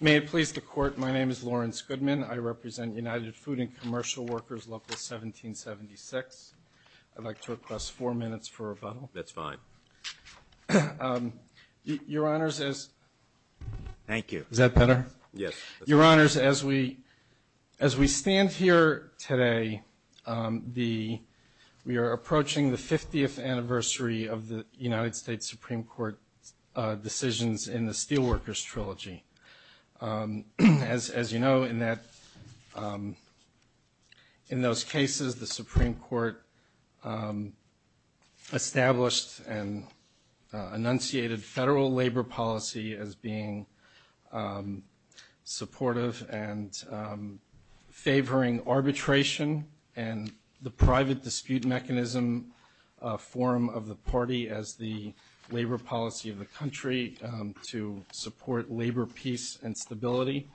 May it please the Court, my name is Lawrence Goodman. I represent United Food&Commercial Workers, Local 1776. I'd like to request four minutes for rebuttal. That's fine. Your Honors, as we stand here today, we are approaching the 50th anniversary of the United States Supreme Court decisions in the Steelworkers Trilogy. As you know, in those cases, the Supreme Court established and enunciated federal labor policy as being supportive and favoring arbitration and the private dispute mechanism form of the party as the labor policy of the country to support labor peace and stability.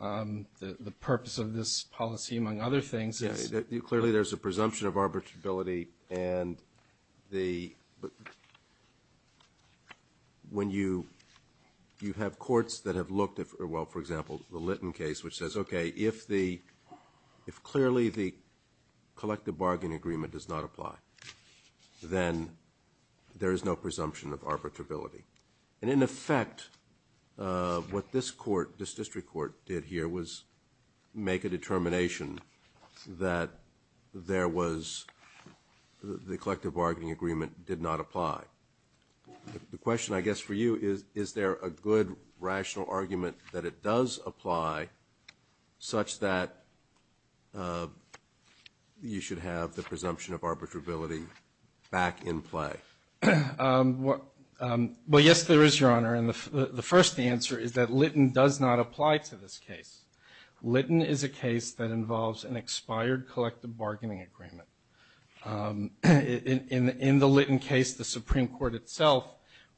The purpose of this policy, among other things, is – Clearly, there's a presumption of arbitrability and the – when you – you have courts that have looked at – well, for example, the Litton case, which says, okay, if the – if clearly the collective bargaining agreement does not apply, then there is no presumption of arbitrability. And in effect, what this court, this district court, did here was make a determination that there was – the collective bargaining agreement did not apply. The question, I guess, for you is, is there a good, rational argument that it does apply such that you should have the presumption of arbitrability back in play? Well, yes, there is, Your Honor. And the first answer is that Litton does not apply to this case. Litton is a case that involves an expired collective bargaining agreement. In the Litton case, the Supreme Court itself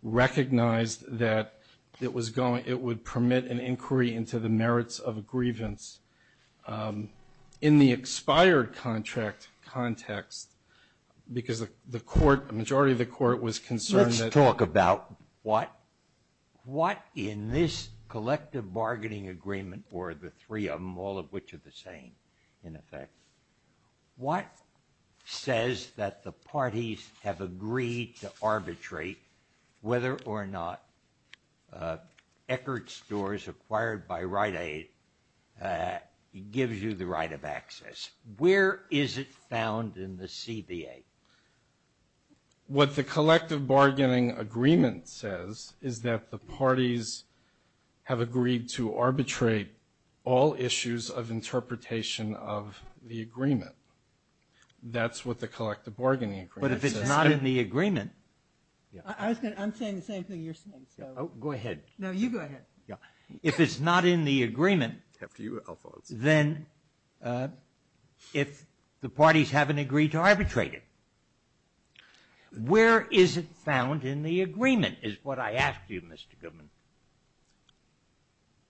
recognized that it was going – it would permit an inquiry into the merits of a grievance. In the expired contract context, because the court – the majority of the court was concerned that – Let's talk about what – what in this collective bargaining agreement, or the three of them, all of which are the same, in effect, what says that the parties have agreed to arbitrate whether or not Eckert stores acquired by Rite Aid gives you the right of access? Where is it found in the CBA? What the collective bargaining agreement says is that the parties have agreed to arbitrate all issues of interpretation of the agreement. That's what the collective bargaining agreement says. But if it's not in the agreement – I was going to – I'm saying the same thing you're saying, so – Oh, go ahead. No, you go ahead. Yeah. If it's not in the agreement, then if the parties haven't agreed to arbitrate it, where is it found in the agreement, is what I ask you, Mr. Goodman.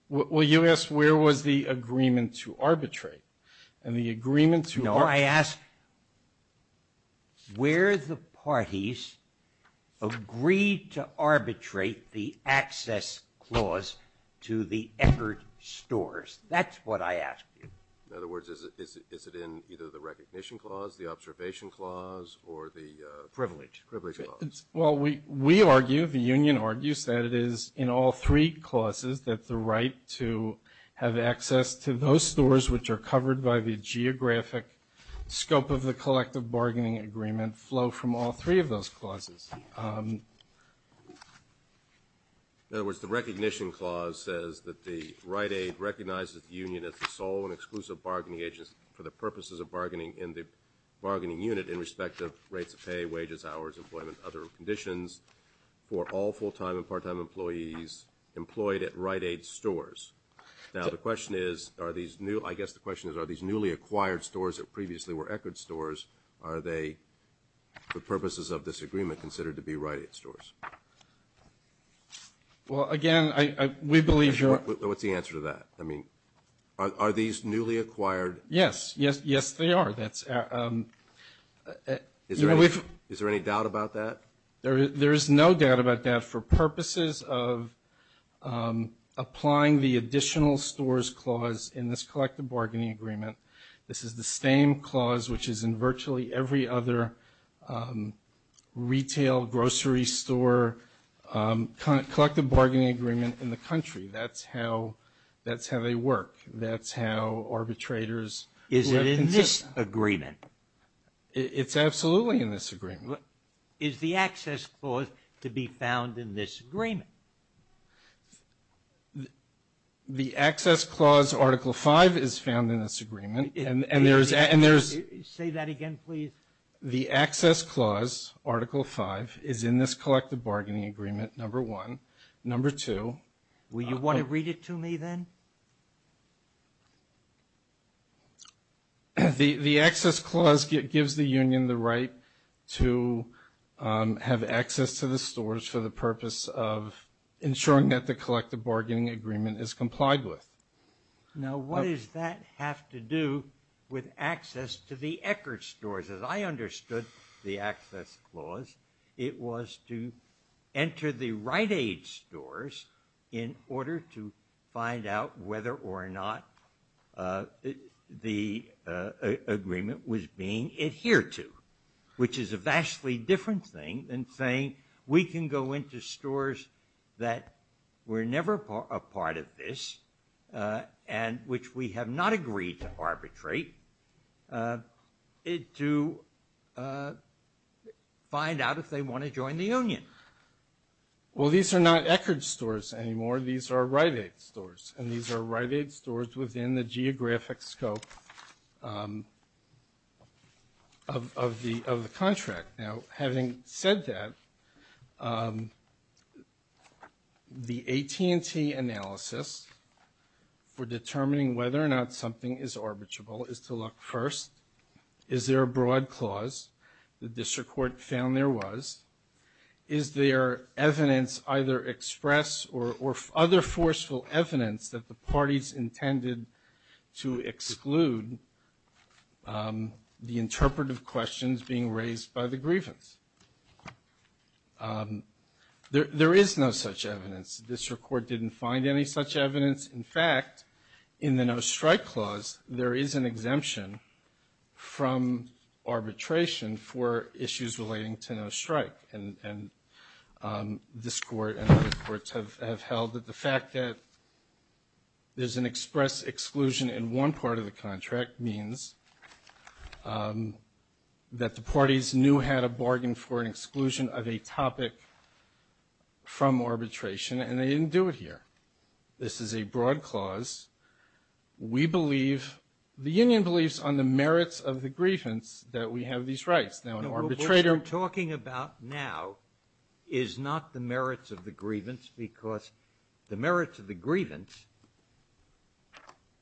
Well, you asked where was the agreement to arbitrate. And the agreement to – No, I asked where the parties agreed to arbitrate the access clause to the Eckert stores. That's what I asked you. In other words, is it in either the recognition clause, the observation clause, or the – Privilege. Privilege clause. Well, we argue, the union argues, that it is in all three clauses that the right to have access to those stores which are covered by the geographic scope of the collective bargaining agreement flow from all three of those clauses. In other words, the recognition clause says that the right aid recognizes the union as the sole and exclusive bargaining agent for the purposes of bargaining in the bargaining for all full-time and part-time employees employed at right aid stores. Now, the question is, are these – I guess the question is, are these newly acquired stores that previously were Eckert stores, are they, for purposes of this agreement, considered to be right aid stores? Well, again, I – we believe you're – What's the answer to that? I mean, are these newly acquired – Yes. Yes, they are. That's – Is there any doubt about that? There is no doubt about that. For purposes of applying the additional stores clause in this collective bargaining agreement, this is the same clause which is in virtually every other retail, grocery store, collective bargaining agreement in the country. That's how – that's how they work. That's how arbitrators – Is it in this agreement? It's absolutely in this agreement. Is the access clause to be found in this agreement? The access clause, Article V, is found in this agreement, and there's – Say that again, please. The access clause, Article V, is in this collective bargaining agreement, number one. Number two – Will you want to read it to me then? Okay. The access clause gives the union the right to have access to the stores for the purpose of ensuring that the collective bargaining agreement is complied with. Now what does that have to do with access to the Eckerd stores? As I understood the right aid stores in order to find out whether or not the agreement was being adhered to, which is a vastly different thing than saying we can go into stores that were never a part of this and which we have not agreed to arbitrate to find out if they want to join the union. Well these are not Eckerd stores anymore. These are right aid stores, and these are right aid stores within the geographic scope of the contract. Now having said that, the AT&T analysis for determining whether or not something is arbitrable is to look first, is there a broad clause? The district court found there was. Is there evidence either express or other forceful evidence that the parties intended to exclude the interpretive questions being raised by the grievance? There is no such evidence. The district court didn't find any such evidence. In fact, in the no strike clause there is an exemption from arbitration for issues relating to no strike, and this court and other courts have held that the fact that there is an express exclusion in one part of the contract means that the parties knew how to bargain for an exclusion of a topic from arbitration, and they didn't do it here. This is a broad clause. We believe, the union believes on the merits of the grievance that we have these rights. What we're talking about now is not the merits of the grievance, because the merits of the grievance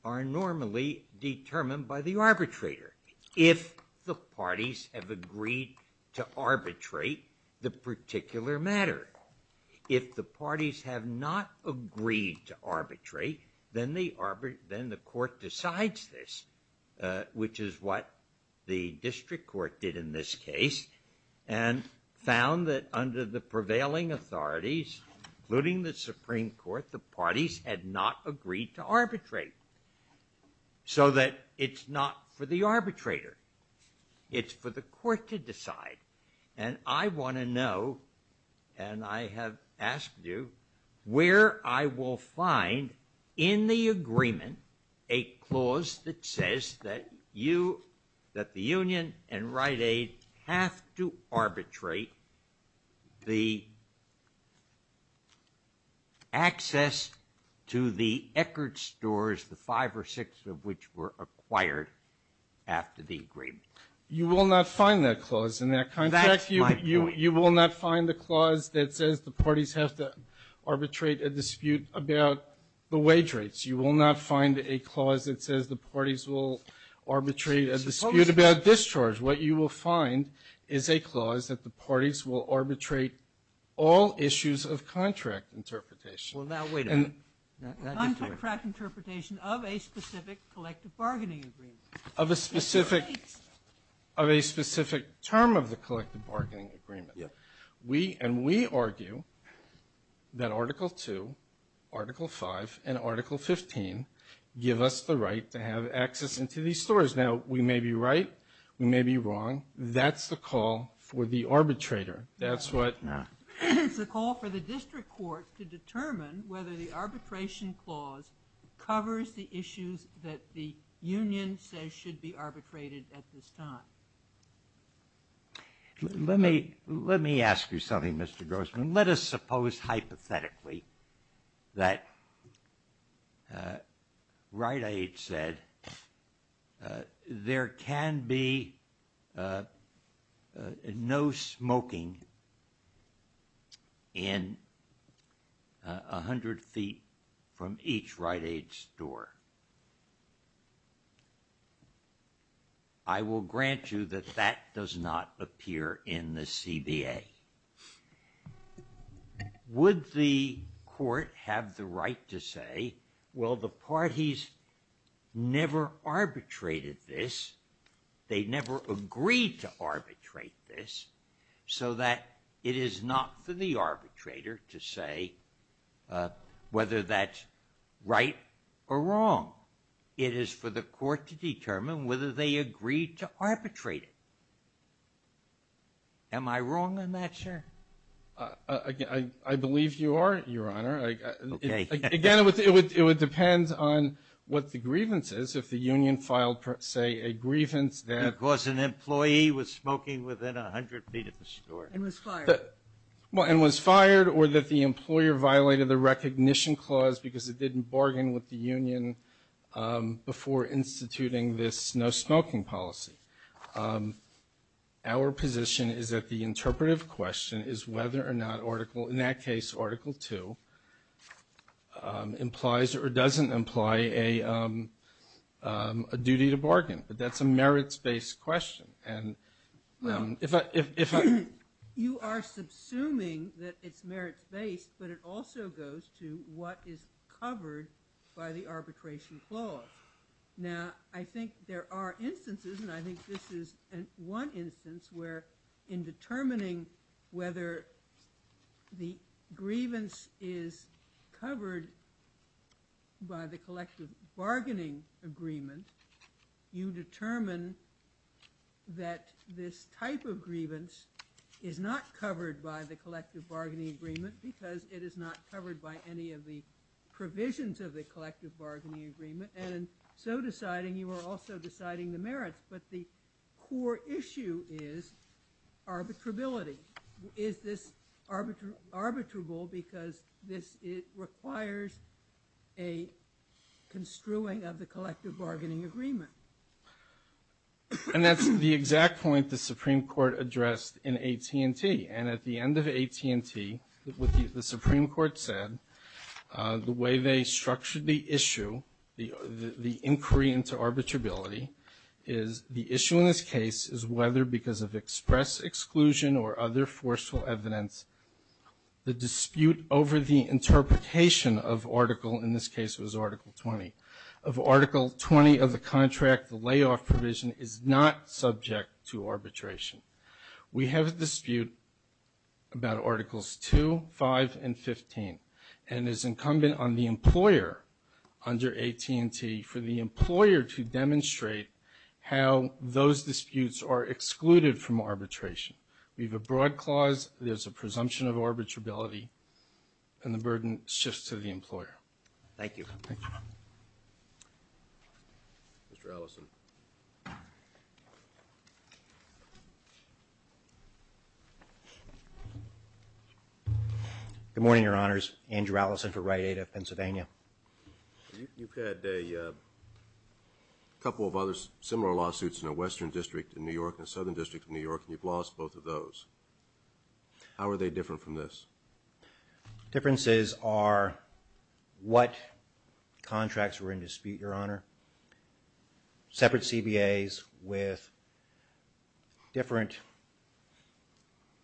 are normally determined by the arbitrator. If the parties have agreed to arbitrate the particular matter, if the parties have not agreed to arbitrate, then the court decides this, which is what the district court did in this case, and found that under the prevailing authorities, including the Supreme Court, the parties had not agreed to arbitrate, so that it's not for the arbitrator. It's for the court to decide, and I want to know, and I have asked you, where I will find in the agreement a clause that says that you, that the union and Rite Aid have to arbitrate the access to the Eckerd stores, the five or six of which were acquired after the agreement. You will not find that clause in that contract. That's my point. You will not find the clause that says the parties have to arbitrate a dispute about the wage rates. You will not find a clause that says the parties will arbitrate a dispute about discharge. What you will find is a clause that the parties will arbitrate all issues of contract interpretation. Well, now, wait a minute. Contract interpretation of a specific collective bargaining agreement. Of a specific term of the collective bargaining agreement. Yeah. And we argue that Article II, Article V, and Article XV give us the right to have access into these stores. Now, we may be right. We may be wrong. That's the call for the arbitrator. That's what the call for the district court to determine whether the arbitration clause covers the issues that the union says should be arbitrated at this time. Let me ask you something, Mr. Grossman. Let us suppose hypothetically that Rite Aid said there can be no smoking in 100 feet from each Rite Aid store. I will grant you that that does not appear in the CBA. Would the court have the right to say, well, the parties never arbitrated this, they never agreed to arbitrate this, so that it is not for the arbitrator to say whether that's right or wrong. It is for the court to determine whether they agreed to arbitrate it. Am I wrong on that, sir? I believe you are, Your Honor. Okay. Again, it would depend on what the grievance is if the union filed, say, a grievance that caused an employee with smoking within 100 feet of the store. And was fired. And was fired or that the employer violated the recognition clause because it didn't bargain with the union before instituting this no smoking policy. Our position is that the interpretive question is whether or not Article, in that case Article II, implies or doesn't imply a duty to bargain. But that's a merits-based question. You are subsuming that it's merits-based, but it also goes to what is covered by the arbitration clause. Now, I think there are instances, and I think this is one instance, where in determining whether the grievance is covered by the collective bargaining, the collective bargaining agreement, you determine that this type of grievance is not covered by the collective bargaining agreement because it is not covered by any of the provisions of the collective bargaining agreement. And in so deciding, you are also deciding the merits. But the core issue is arbitrability. Is this arbitrable because this requires a construing of the collective bargaining agreement? And that's the exact point the Supreme Court addressed in AT&T. And at the end of AT&T, the Supreme Court said the way they structured the issue, the inquiry into arbitrability, is the issue in this case is whether because of express exclusion or other forceful evidence, the dispute over the interpretation of Article, in this case it was Article 20, of Article 20 of the contract, the layoff provision, is not subject to arbitration. We have a dispute about Articles 2, 5, and 15. And it's incumbent on the employer under AT&T for the employer to demonstrate how those disputes are excluded from arbitration. We have a broad clause. There's a presumption of arbitrability. And the burden shifts to the employer. Thank you. Mr. Allison. Good morning, Your Honors. Andrew Allison for Rite Aid of Pennsylvania. You've had a couple of other similar lawsuits in a western district in New York and a southern district in New York and you've lost both of those. How are they different from this? Differences are what contracts were in dispute, Your Honor. Separate CBAs with different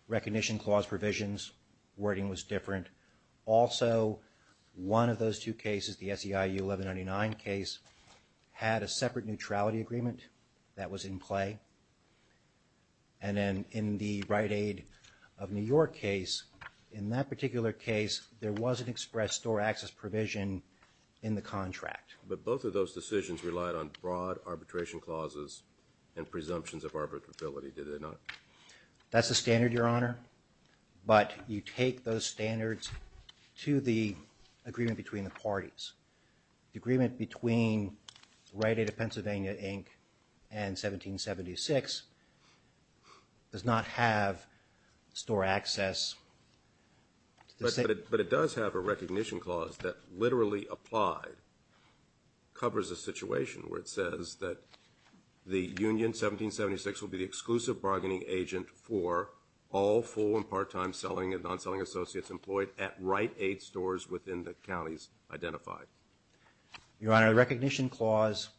recognition clause provisions, wording was different. Also, one of those two cases, the SEIU 1199 case, had a separate neutrality agreement that was in play. And then in the Rite Aid of New York case, in that particular case, there was an express store access provision in the contract. But both of those decisions relied on broad arbitration clauses and presumptions of arbitrability, did they not? That's the standard, Your Honor. But you take those standards to the agreement between the Rite Aid of Pennsylvania, Inc. and 1776, does not have store access. But it does have a recognition clause that literally applied, covers a situation where it says that the Union 1776 will be the exclusive bargaining agent for all full and part-time selling and non-selling associates employed at Rite Aid stores within the counties identified. Your Honor, the recognition clause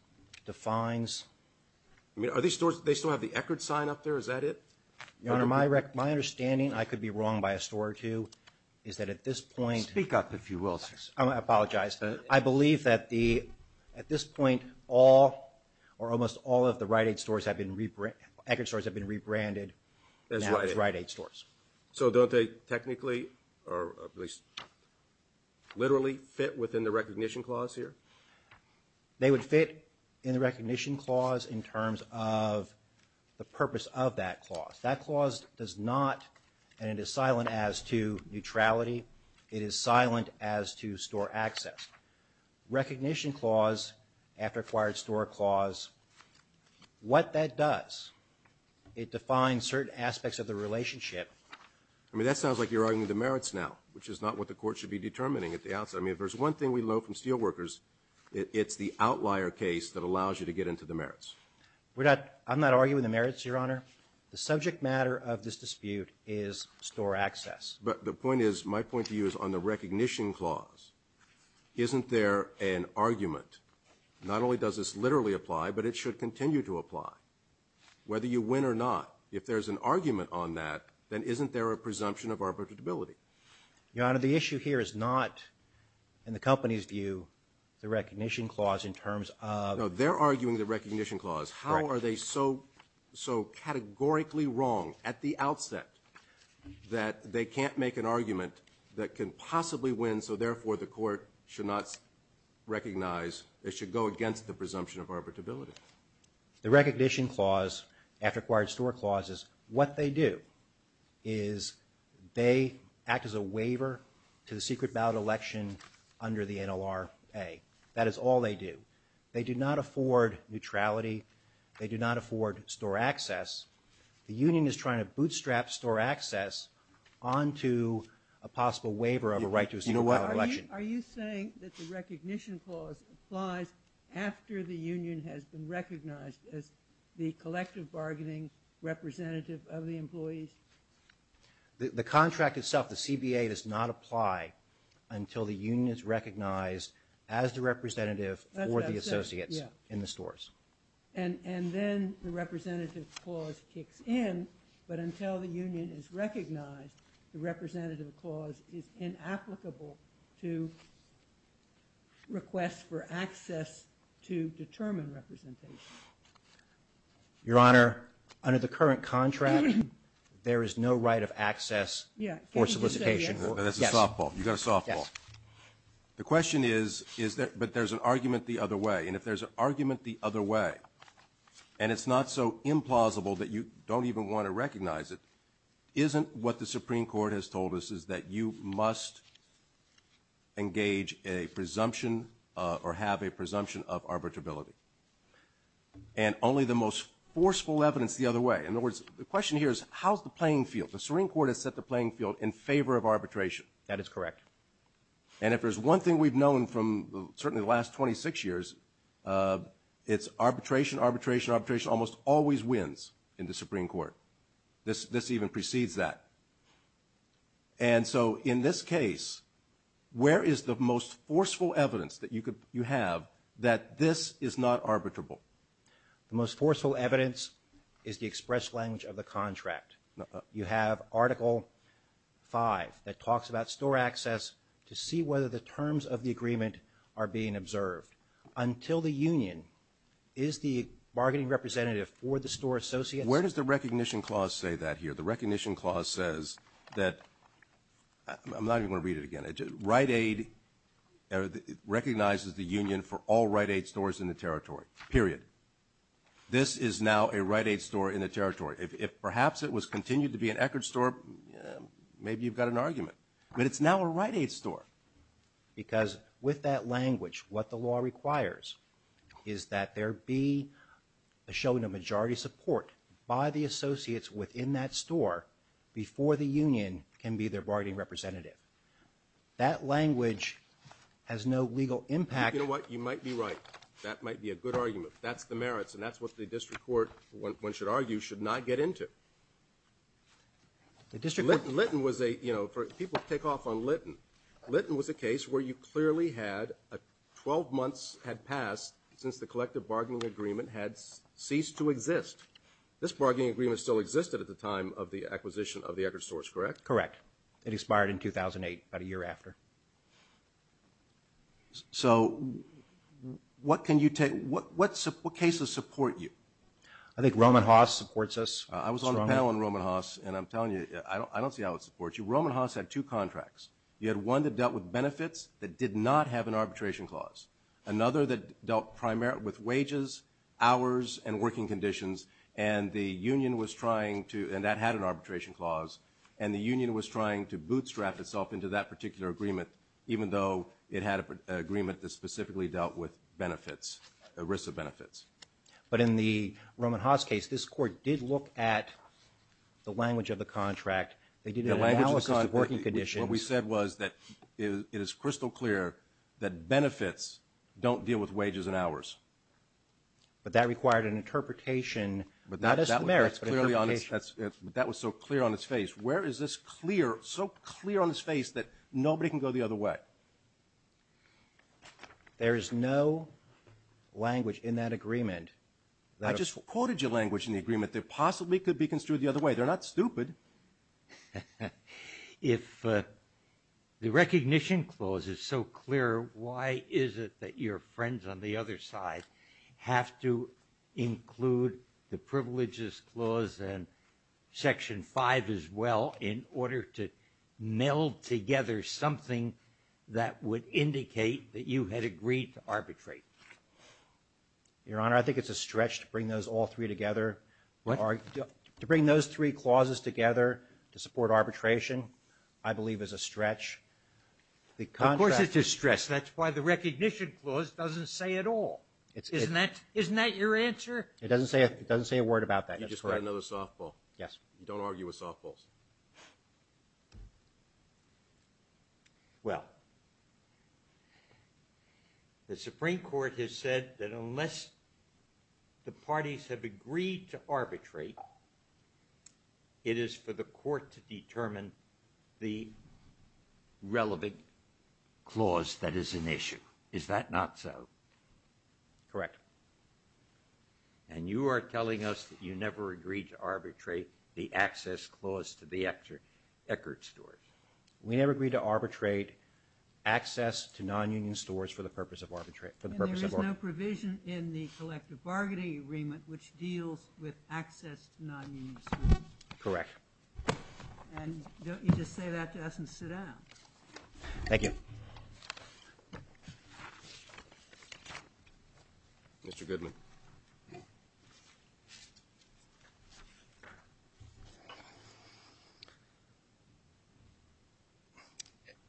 defines... Are these stores, they still have the Eckerd sign up there, is that it? Your Honor, my understanding, I could be wrong by a store or two, is that at this point... Speak up if you will, sir. I apologize. I believe that at this point, all or almost all of the Rite Aid stores have been, Eckerd stores have been rebranded as Rite Aid stores. So don't they technically, or at least literally, fit within the recognition clause here? They would fit in the recognition clause in terms of the purpose of that clause. That clause does not, and it is silent as to neutrality, it is silent as to store access. Recognition clause, after acquired store clause, what that does, it defines certain aspects of the relationship... I mean, that sounds like you're arguing the merits now, which is not what the court should be determining at the outset. I mean, if there's one thing we know from steelworkers, it's the outlier case that allows you to get into the merits. I'm not arguing the merits, Your Honor. The subject matter of this dispute is store access. But the point is, my point to you is on the recognition clause. Isn't there an argument? Not only does this literally apply, but it should continue to apply. Whether you win or not, if there's an argument on that, then isn't there a presumption of arbitrability? Your Honor, the issue here is not, in the company's view, the recognition clause in terms of... No, they're arguing the recognition clause. How are they so categorically wrong at the outset that they can't make an argument that can possibly win, so therefore the court should not recognize, it should go against the presumption of arbitrability? The recognition clause, after acquired store clauses, what they do is they act as a waiver to the secret ballot election under the NLRA. That is all they do. They do not afford neutrality. They do not afford store access. The union is trying to bootstrap store access onto a possible waiver of a right to a secret ballot election. Are you saying that the recognition clause applies after the union has been recognized as the collective bargaining representative of the employees? The contract itself, the CBA, does not apply until the union is recognized as the representative or the associates in the stores. And then the representative clause kicks in, but until the union is recognized, the representative clause is inapplicable to request for access to determine representation. Your Honor, under the current contract, there is no right of access for solicitation. The question is, but there's an argument the other way, and if there's an argument the other way, and it's not so implausible that you don't even want to recognize it, isn't what the Supreme Court has told us is that you must engage a presumption or have a presumption of arbitrability? And only the most forceful evidence the other way. In other words, the question here is, how's the playing field? The Supreme Court has set the playing field in favor of arbitration. That is correct. And if there's one thing we've known from certainly the last 26 years, it's arbitration, arbitration, arbitration almost always wins in the Supreme Court. This even precedes that. And so in this case, where is the most forceful evidence that you have that this is not arbitrable? The most forceful evidence is the express language of the contract. You have Article 5 that talks about store access to see whether the terms of the agreement are being observed. Until the union is the bargaining representative for the store associates. Where does the recognition clause say that here? The recognition clause says that, I'm not even going to read it again, it recognizes the union for all Rite Aid stores in the territory, period. This is now a Rite Aid store in the territory. If perhaps it was continued to be an Eckerd store, maybe you've got an argument. But it's now a Rite Aid store. Because with that language, what the law requires is that there be shown a majority support by the associates within that store before the union can be their bargaining representative. That language has no legal impact. You know what, you might be right. That might be a good argument. That's the merits and that's what the district court, one should argue, should not get into. Litton was a, you know, people take off on Litton. Litton was a case where you clearly had 12 months had passed since the collective bargaining agreement had ceased to exist. This bargaining agreement still existed at the time of the acquisition of the Eckerd stores, correct? Correct. It expired in 2008, about a year after. So what can you take, what cases support you? I think Roman Haas supports us. I was on the panel on Roman Haas and I'm telling you, I don't see how it supports you. Roman Haas had two contracts. You had one that dealt with benefits that did not have an arbitration clause. Another that dealt primarily with wages, hours and working conditions and the union was trying to, and that had an arbitration clause, and the union was trying to bootstrap itself into that particular agreement even though it had an agreement that specifically dealt with benefits, risks of benefits. But in the Roman Haas case, this court did look at the language of the contract. They did an analysis of working conditions. The language of the contract, what we said was that it is crystal clear that benefits don't deal with wages and hours. But that required an interpretation, not just the merits, but interpretation. That was so clear on its face. Where is this clear, so clear on its face that nobody can go the other way? There is no language in that agreement. I just quoted your language in the agreement. They possibly could be construed the other way. They're not stupid. If the recognition clause is so clear, why is it that your friends on the other side have to include the privileges clause and Section 5 as well in order to meld together something that would indicate that you had agreed to arbitrate? Your Honor, I think it's a stretch to bring those all three together. What? To bring those three clauses together to support arbitration, I believe is a stretch. Of course it's a stretch. That's why the recognition clause doesn't say it all. Isn't that your answer? It doesn't say a word about that. You just got another softball. Yes. You don't argue with softballs. Well, the Supreme Court has said that unless the parties have agreed to arbitrate, it is for the court to determine the relevant clause that is an issue. Is that not so? Correct. And you are telling us that you never agreed to arbitrate the access clause to the Eckert stores. We never agreed to arbitrate access to non-union stores for the purpose of arbitration. And there is no provision in the collective bargaining agreement which deals with access to non-union stores. Correct. And don't you just say that to us and sit down? Thank you. Mr. Goodman.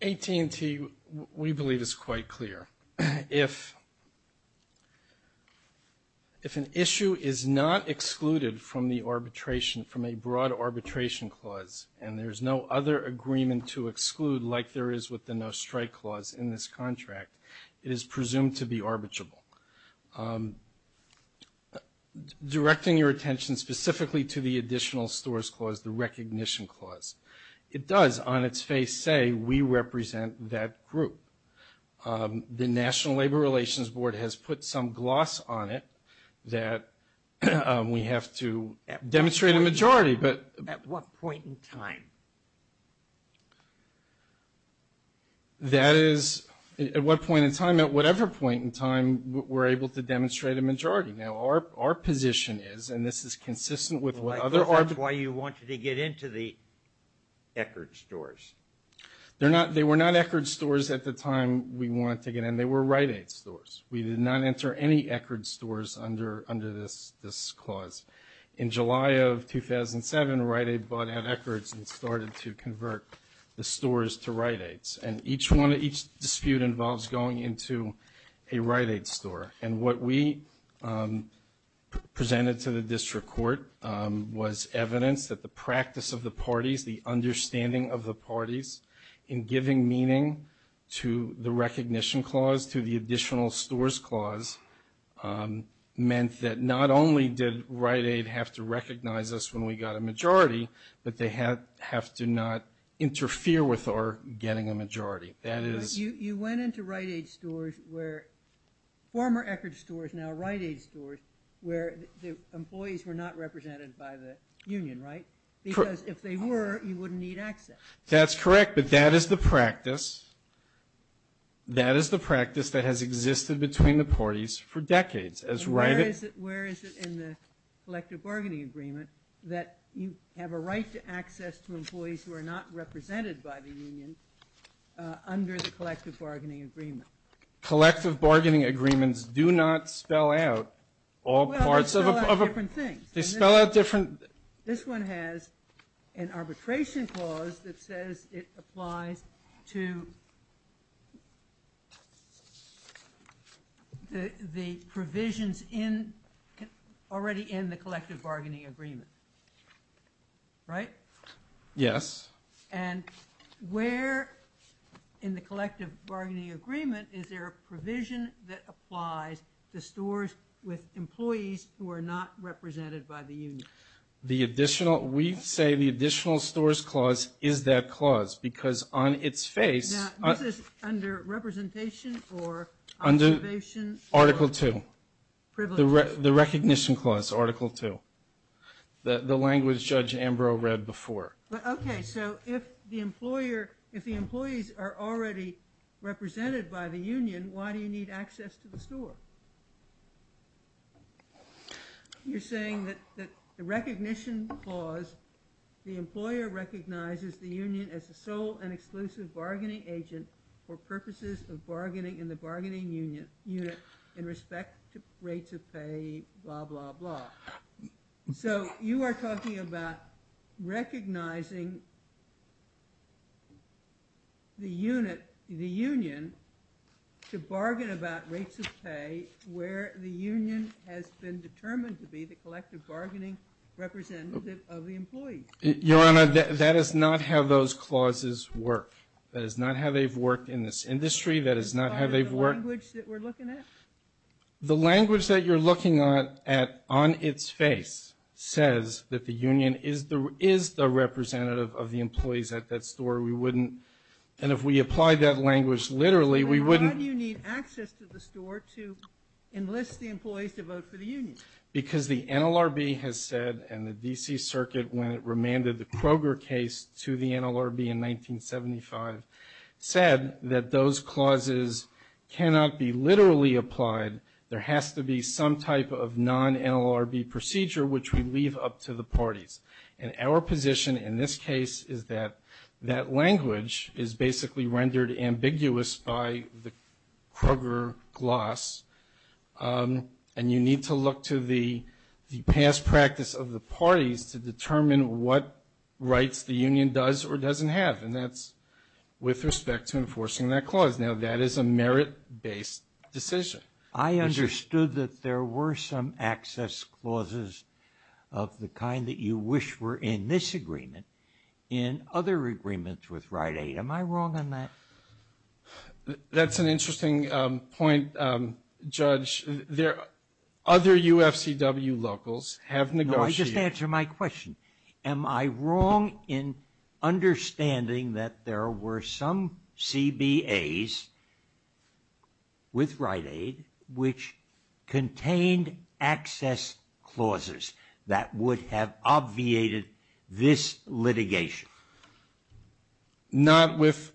AT&T, we believe, is quite clear. If an issue is not excluded from the arbitration, from a broad arbitration clause, and there's no other agreement to exclude like there is with the no-strike clause in this contract, it is presumed to be arbitrable. Directing your attention specifically to the additional stores clause, the recognition clause, it does on its face say we represent that group. The National Labor Relations Board has put some gloss on it that we have to demonstrate a majority. At what point in time? That is, at what point in time? At whatever point in time, we're able to demonstrate a majority. Now, our position is, and this is consistent with what other articles. That's why you wanted to get into the Eckert stores. They were not Eckert stores at the time we wanted to get in. They were Rite Aid stores. We did not enter any Eckert stores under this clause. In July of 2007, Rite Aid bought out Eckert and started to convert the stores to Rite Aids. And each dispute involves going into a Rite Aid store. And what we presented to the district court was evidence that the practice of the parties, the understanding of the parties in giving meaning to the recognition clause, to the additional stores clause, meant that not only did Rite Aid have to recognize us when we got a majority, but they have to not interfere with our getting a majority. You went into Rite Aid stores where, former Eckert stores, now Rite Aid stores, where the employees were not represented by the union, right? Because if they were, you wouldn't need access. That's correct. But that is the practice. That is the practice that has existed between the parties for decades. Where is it in the collective bargaining agreement that you have a right to access to employees who are not represented by the union under the collective bargaining agreement? Collective bargaining agreements do not spell out all parts of a- Well, they spell out different things. They spell out different- This one has an arbitration clause that says it applies to the provisions already in the collective bargaining agreement. Right? Yes. And where in the collective bargaining agreement is there a provision that applies to stores with employees who are not represented by the union? We say the additional stores clause is that clause because on its face- Now, this is under representation or observation? Article 2. The recognition clause, Article 2. The language Judge Ambrose read before. Okay, so if the employees are already represented by the union, why do you need access to the store? You're saying that the recognition clause, the employer recognizes the union as a sole and exclusive bargaining agent for purposes of bargaining in the bargaining unit in respect to rates of pay, blah, blah, blah. So you are talking about recognizing the unit, the union to bargain about rates of pay where the union has been determined to be the collective bargaining representative of the employees. Your Honor, that is not how those clauses work. That is not how they've worked in this industry. That is not how they've worked- By the language that we're looking at? The language that you're looking at on its face says that the union is the representative of the employees at that store. We wouldn't- and if we applied that language literally, we wouldn't- Then why do you need access to the store to enlist the employees to vote for the union? Because the NLRB has said, and the D.C. Circuit, when it remanded the Kroger case to the NLRB in 1975, said that those clauses cannot be literally applied. There has to be some type of non-NLRB procedure which we leave up to the parties. And our position in this case is that that language is basically rendered ambiguous by the Kroger gloss, and you need to look to the past practice of the parties to determine what rights the union does or doesn't have. And that's with respect to enforcing that clause. Now, that is a merit-based decision. I understood that there were some access clauses of the kind that you wish were in this agreement, in other agreements with Rite Aid. Am I wrong on that? That's an interesting point, Judge. Other UFCW locals have negotiated- No, I just answered my question. Am I wrong in understanding that there were some CBAs with Rite Aid which contained access clauses that would have obviated this litigation? Not with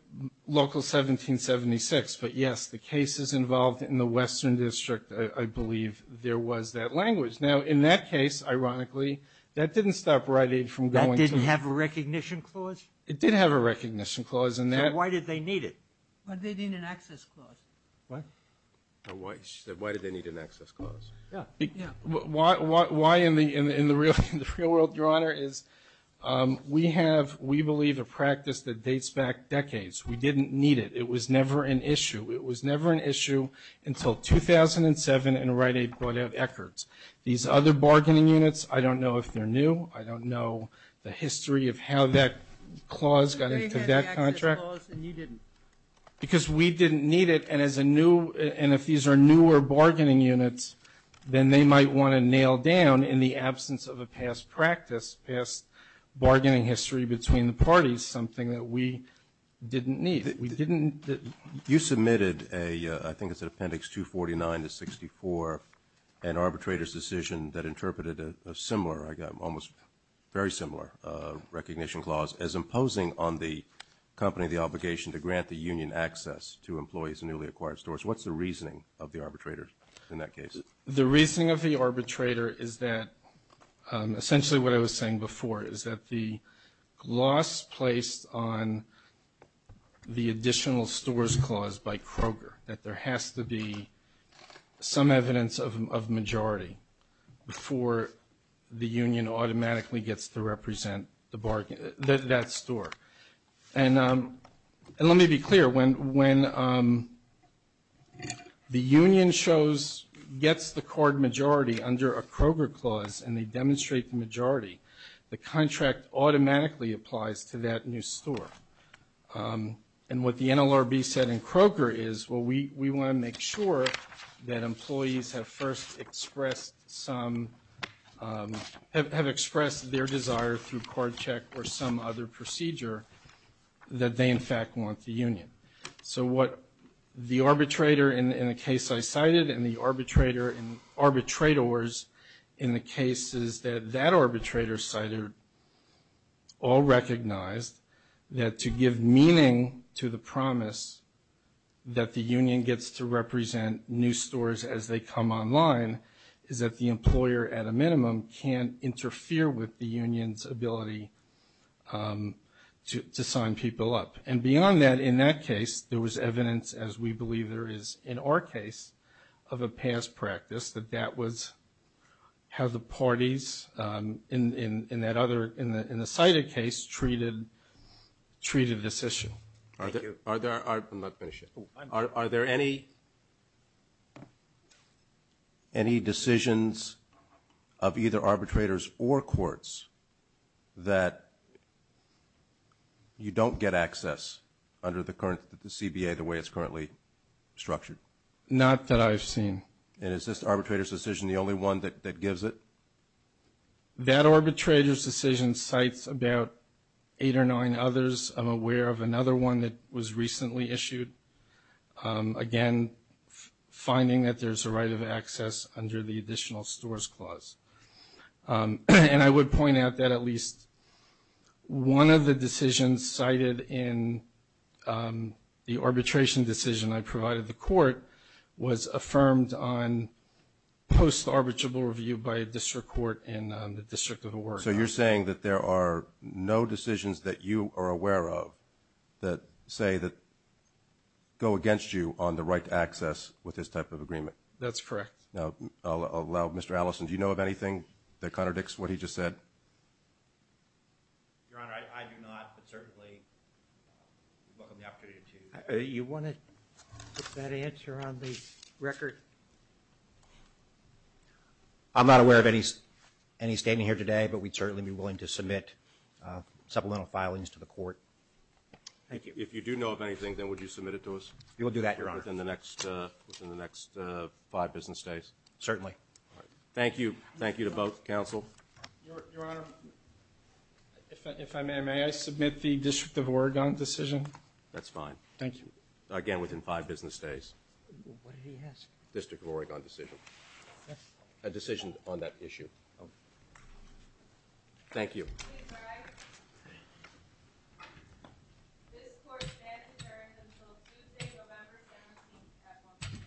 Local 1776, but, yes, the cases involved in the Western District, I believe there was that language. Now, in that case, ironically, that didn't stop Rite Aid from going to- That didn't have a recognition clause? It did have a recognition clause, and that- So why did they need it? Why did they need an access clause? What? She said why did they need an access clause. Why in the real world, Your Honor, is we have, we believe, a practice that dates back decades. We didn't need it. It was never an issue. It was never an issue until 2007, and Rite Aid brought out Eckert's. These other bargaining units, I don't know if they're new. I don't know the history of how that clause got into that contract. They had the access clause, and you didn't. Because we didn't need it, and as a new, and if these are newer bargaining units, then they might want to nail down in the absence of a past practice, past bargaining history between the parties, something that we didn't need. We didn't. You submitted a, I think it's an appendix 249 to 64, an arbitrator's decision that interpreted a similar, almost very similar recognition clause as imposing on the company the obligation to grant the union access to employees in newly acquired stores. What's the reasoning of the arbitrator in that case? The reasoning of the arbitrator is that essentially what I was saying before is that the loss placed on the additional stores clause by Kroger, that there has to be some evidence of majority before the union automatically gets to represent that store. And let me be clear. When the union gets the card majority under a Kroger clause and they demonstrate the majority, the contract automatically applies to that new store. And what the NLRB said in Kroger is, well, we want to make sure that employees have first expressed some, have expressed their desire through card check or some other procedure that they, in fact, want the union. So what the arbitrator in the case I cited and the arbitrators in the cases that that arbitrator cited all recognized that to give meaning to the promise that the union gets to represent new stores as they come online is that the employer, at a minimum, can't interfere with the union's ability to sign people up. And beyond that, in that case, there was evidence, as we believe there is in our case, of a past practice that that was how the parties in that other, in the cited case, treated this issue. Thank you. Are there any decisions of either arbitrators or courts that you don't get access under the current, the CBA, the way it's currently structured? Not that I've seen. And is this arbitrator's decision the only one that gives it? That arbitrator's decision cites about eight or nine others. I'm aware of another one that was recently issued. Again, finding that there's a right of access under the additional stores clause. And I would point out that at least one of the decisions cited in the arbitration decision I provided the court was affirmed on post-arbitrable review by a district court in the District of Oregon. So you're saying that there are no decisions that you are aware of that say that go against you on the right to access with this type of agreement? That's correct. Now, Mr. Allison, do you know of anything that contradicts what he just said? Your Honor, I do not, but certainly we welcome the opportunity to. You want to put that answer on the record? I'm not aware of any statement here today, but we'd certainly be willing to submit supplemental filings to the court. Thank you. If you do know of anything, then would you submit it to us? We will do that, Your Honor. Within the next five business days? Certainly. Thank you. Thank you to both counsel. Your Honor, if I may, may I submit the District of Oregon decision? That's fine. Thank you. Again, within five business days. What did he ask? District of Oregon decision. A decision on that issue. Thank you. Please rise. This court stands adjourned until Tuesday, November 17th at 1 p.m.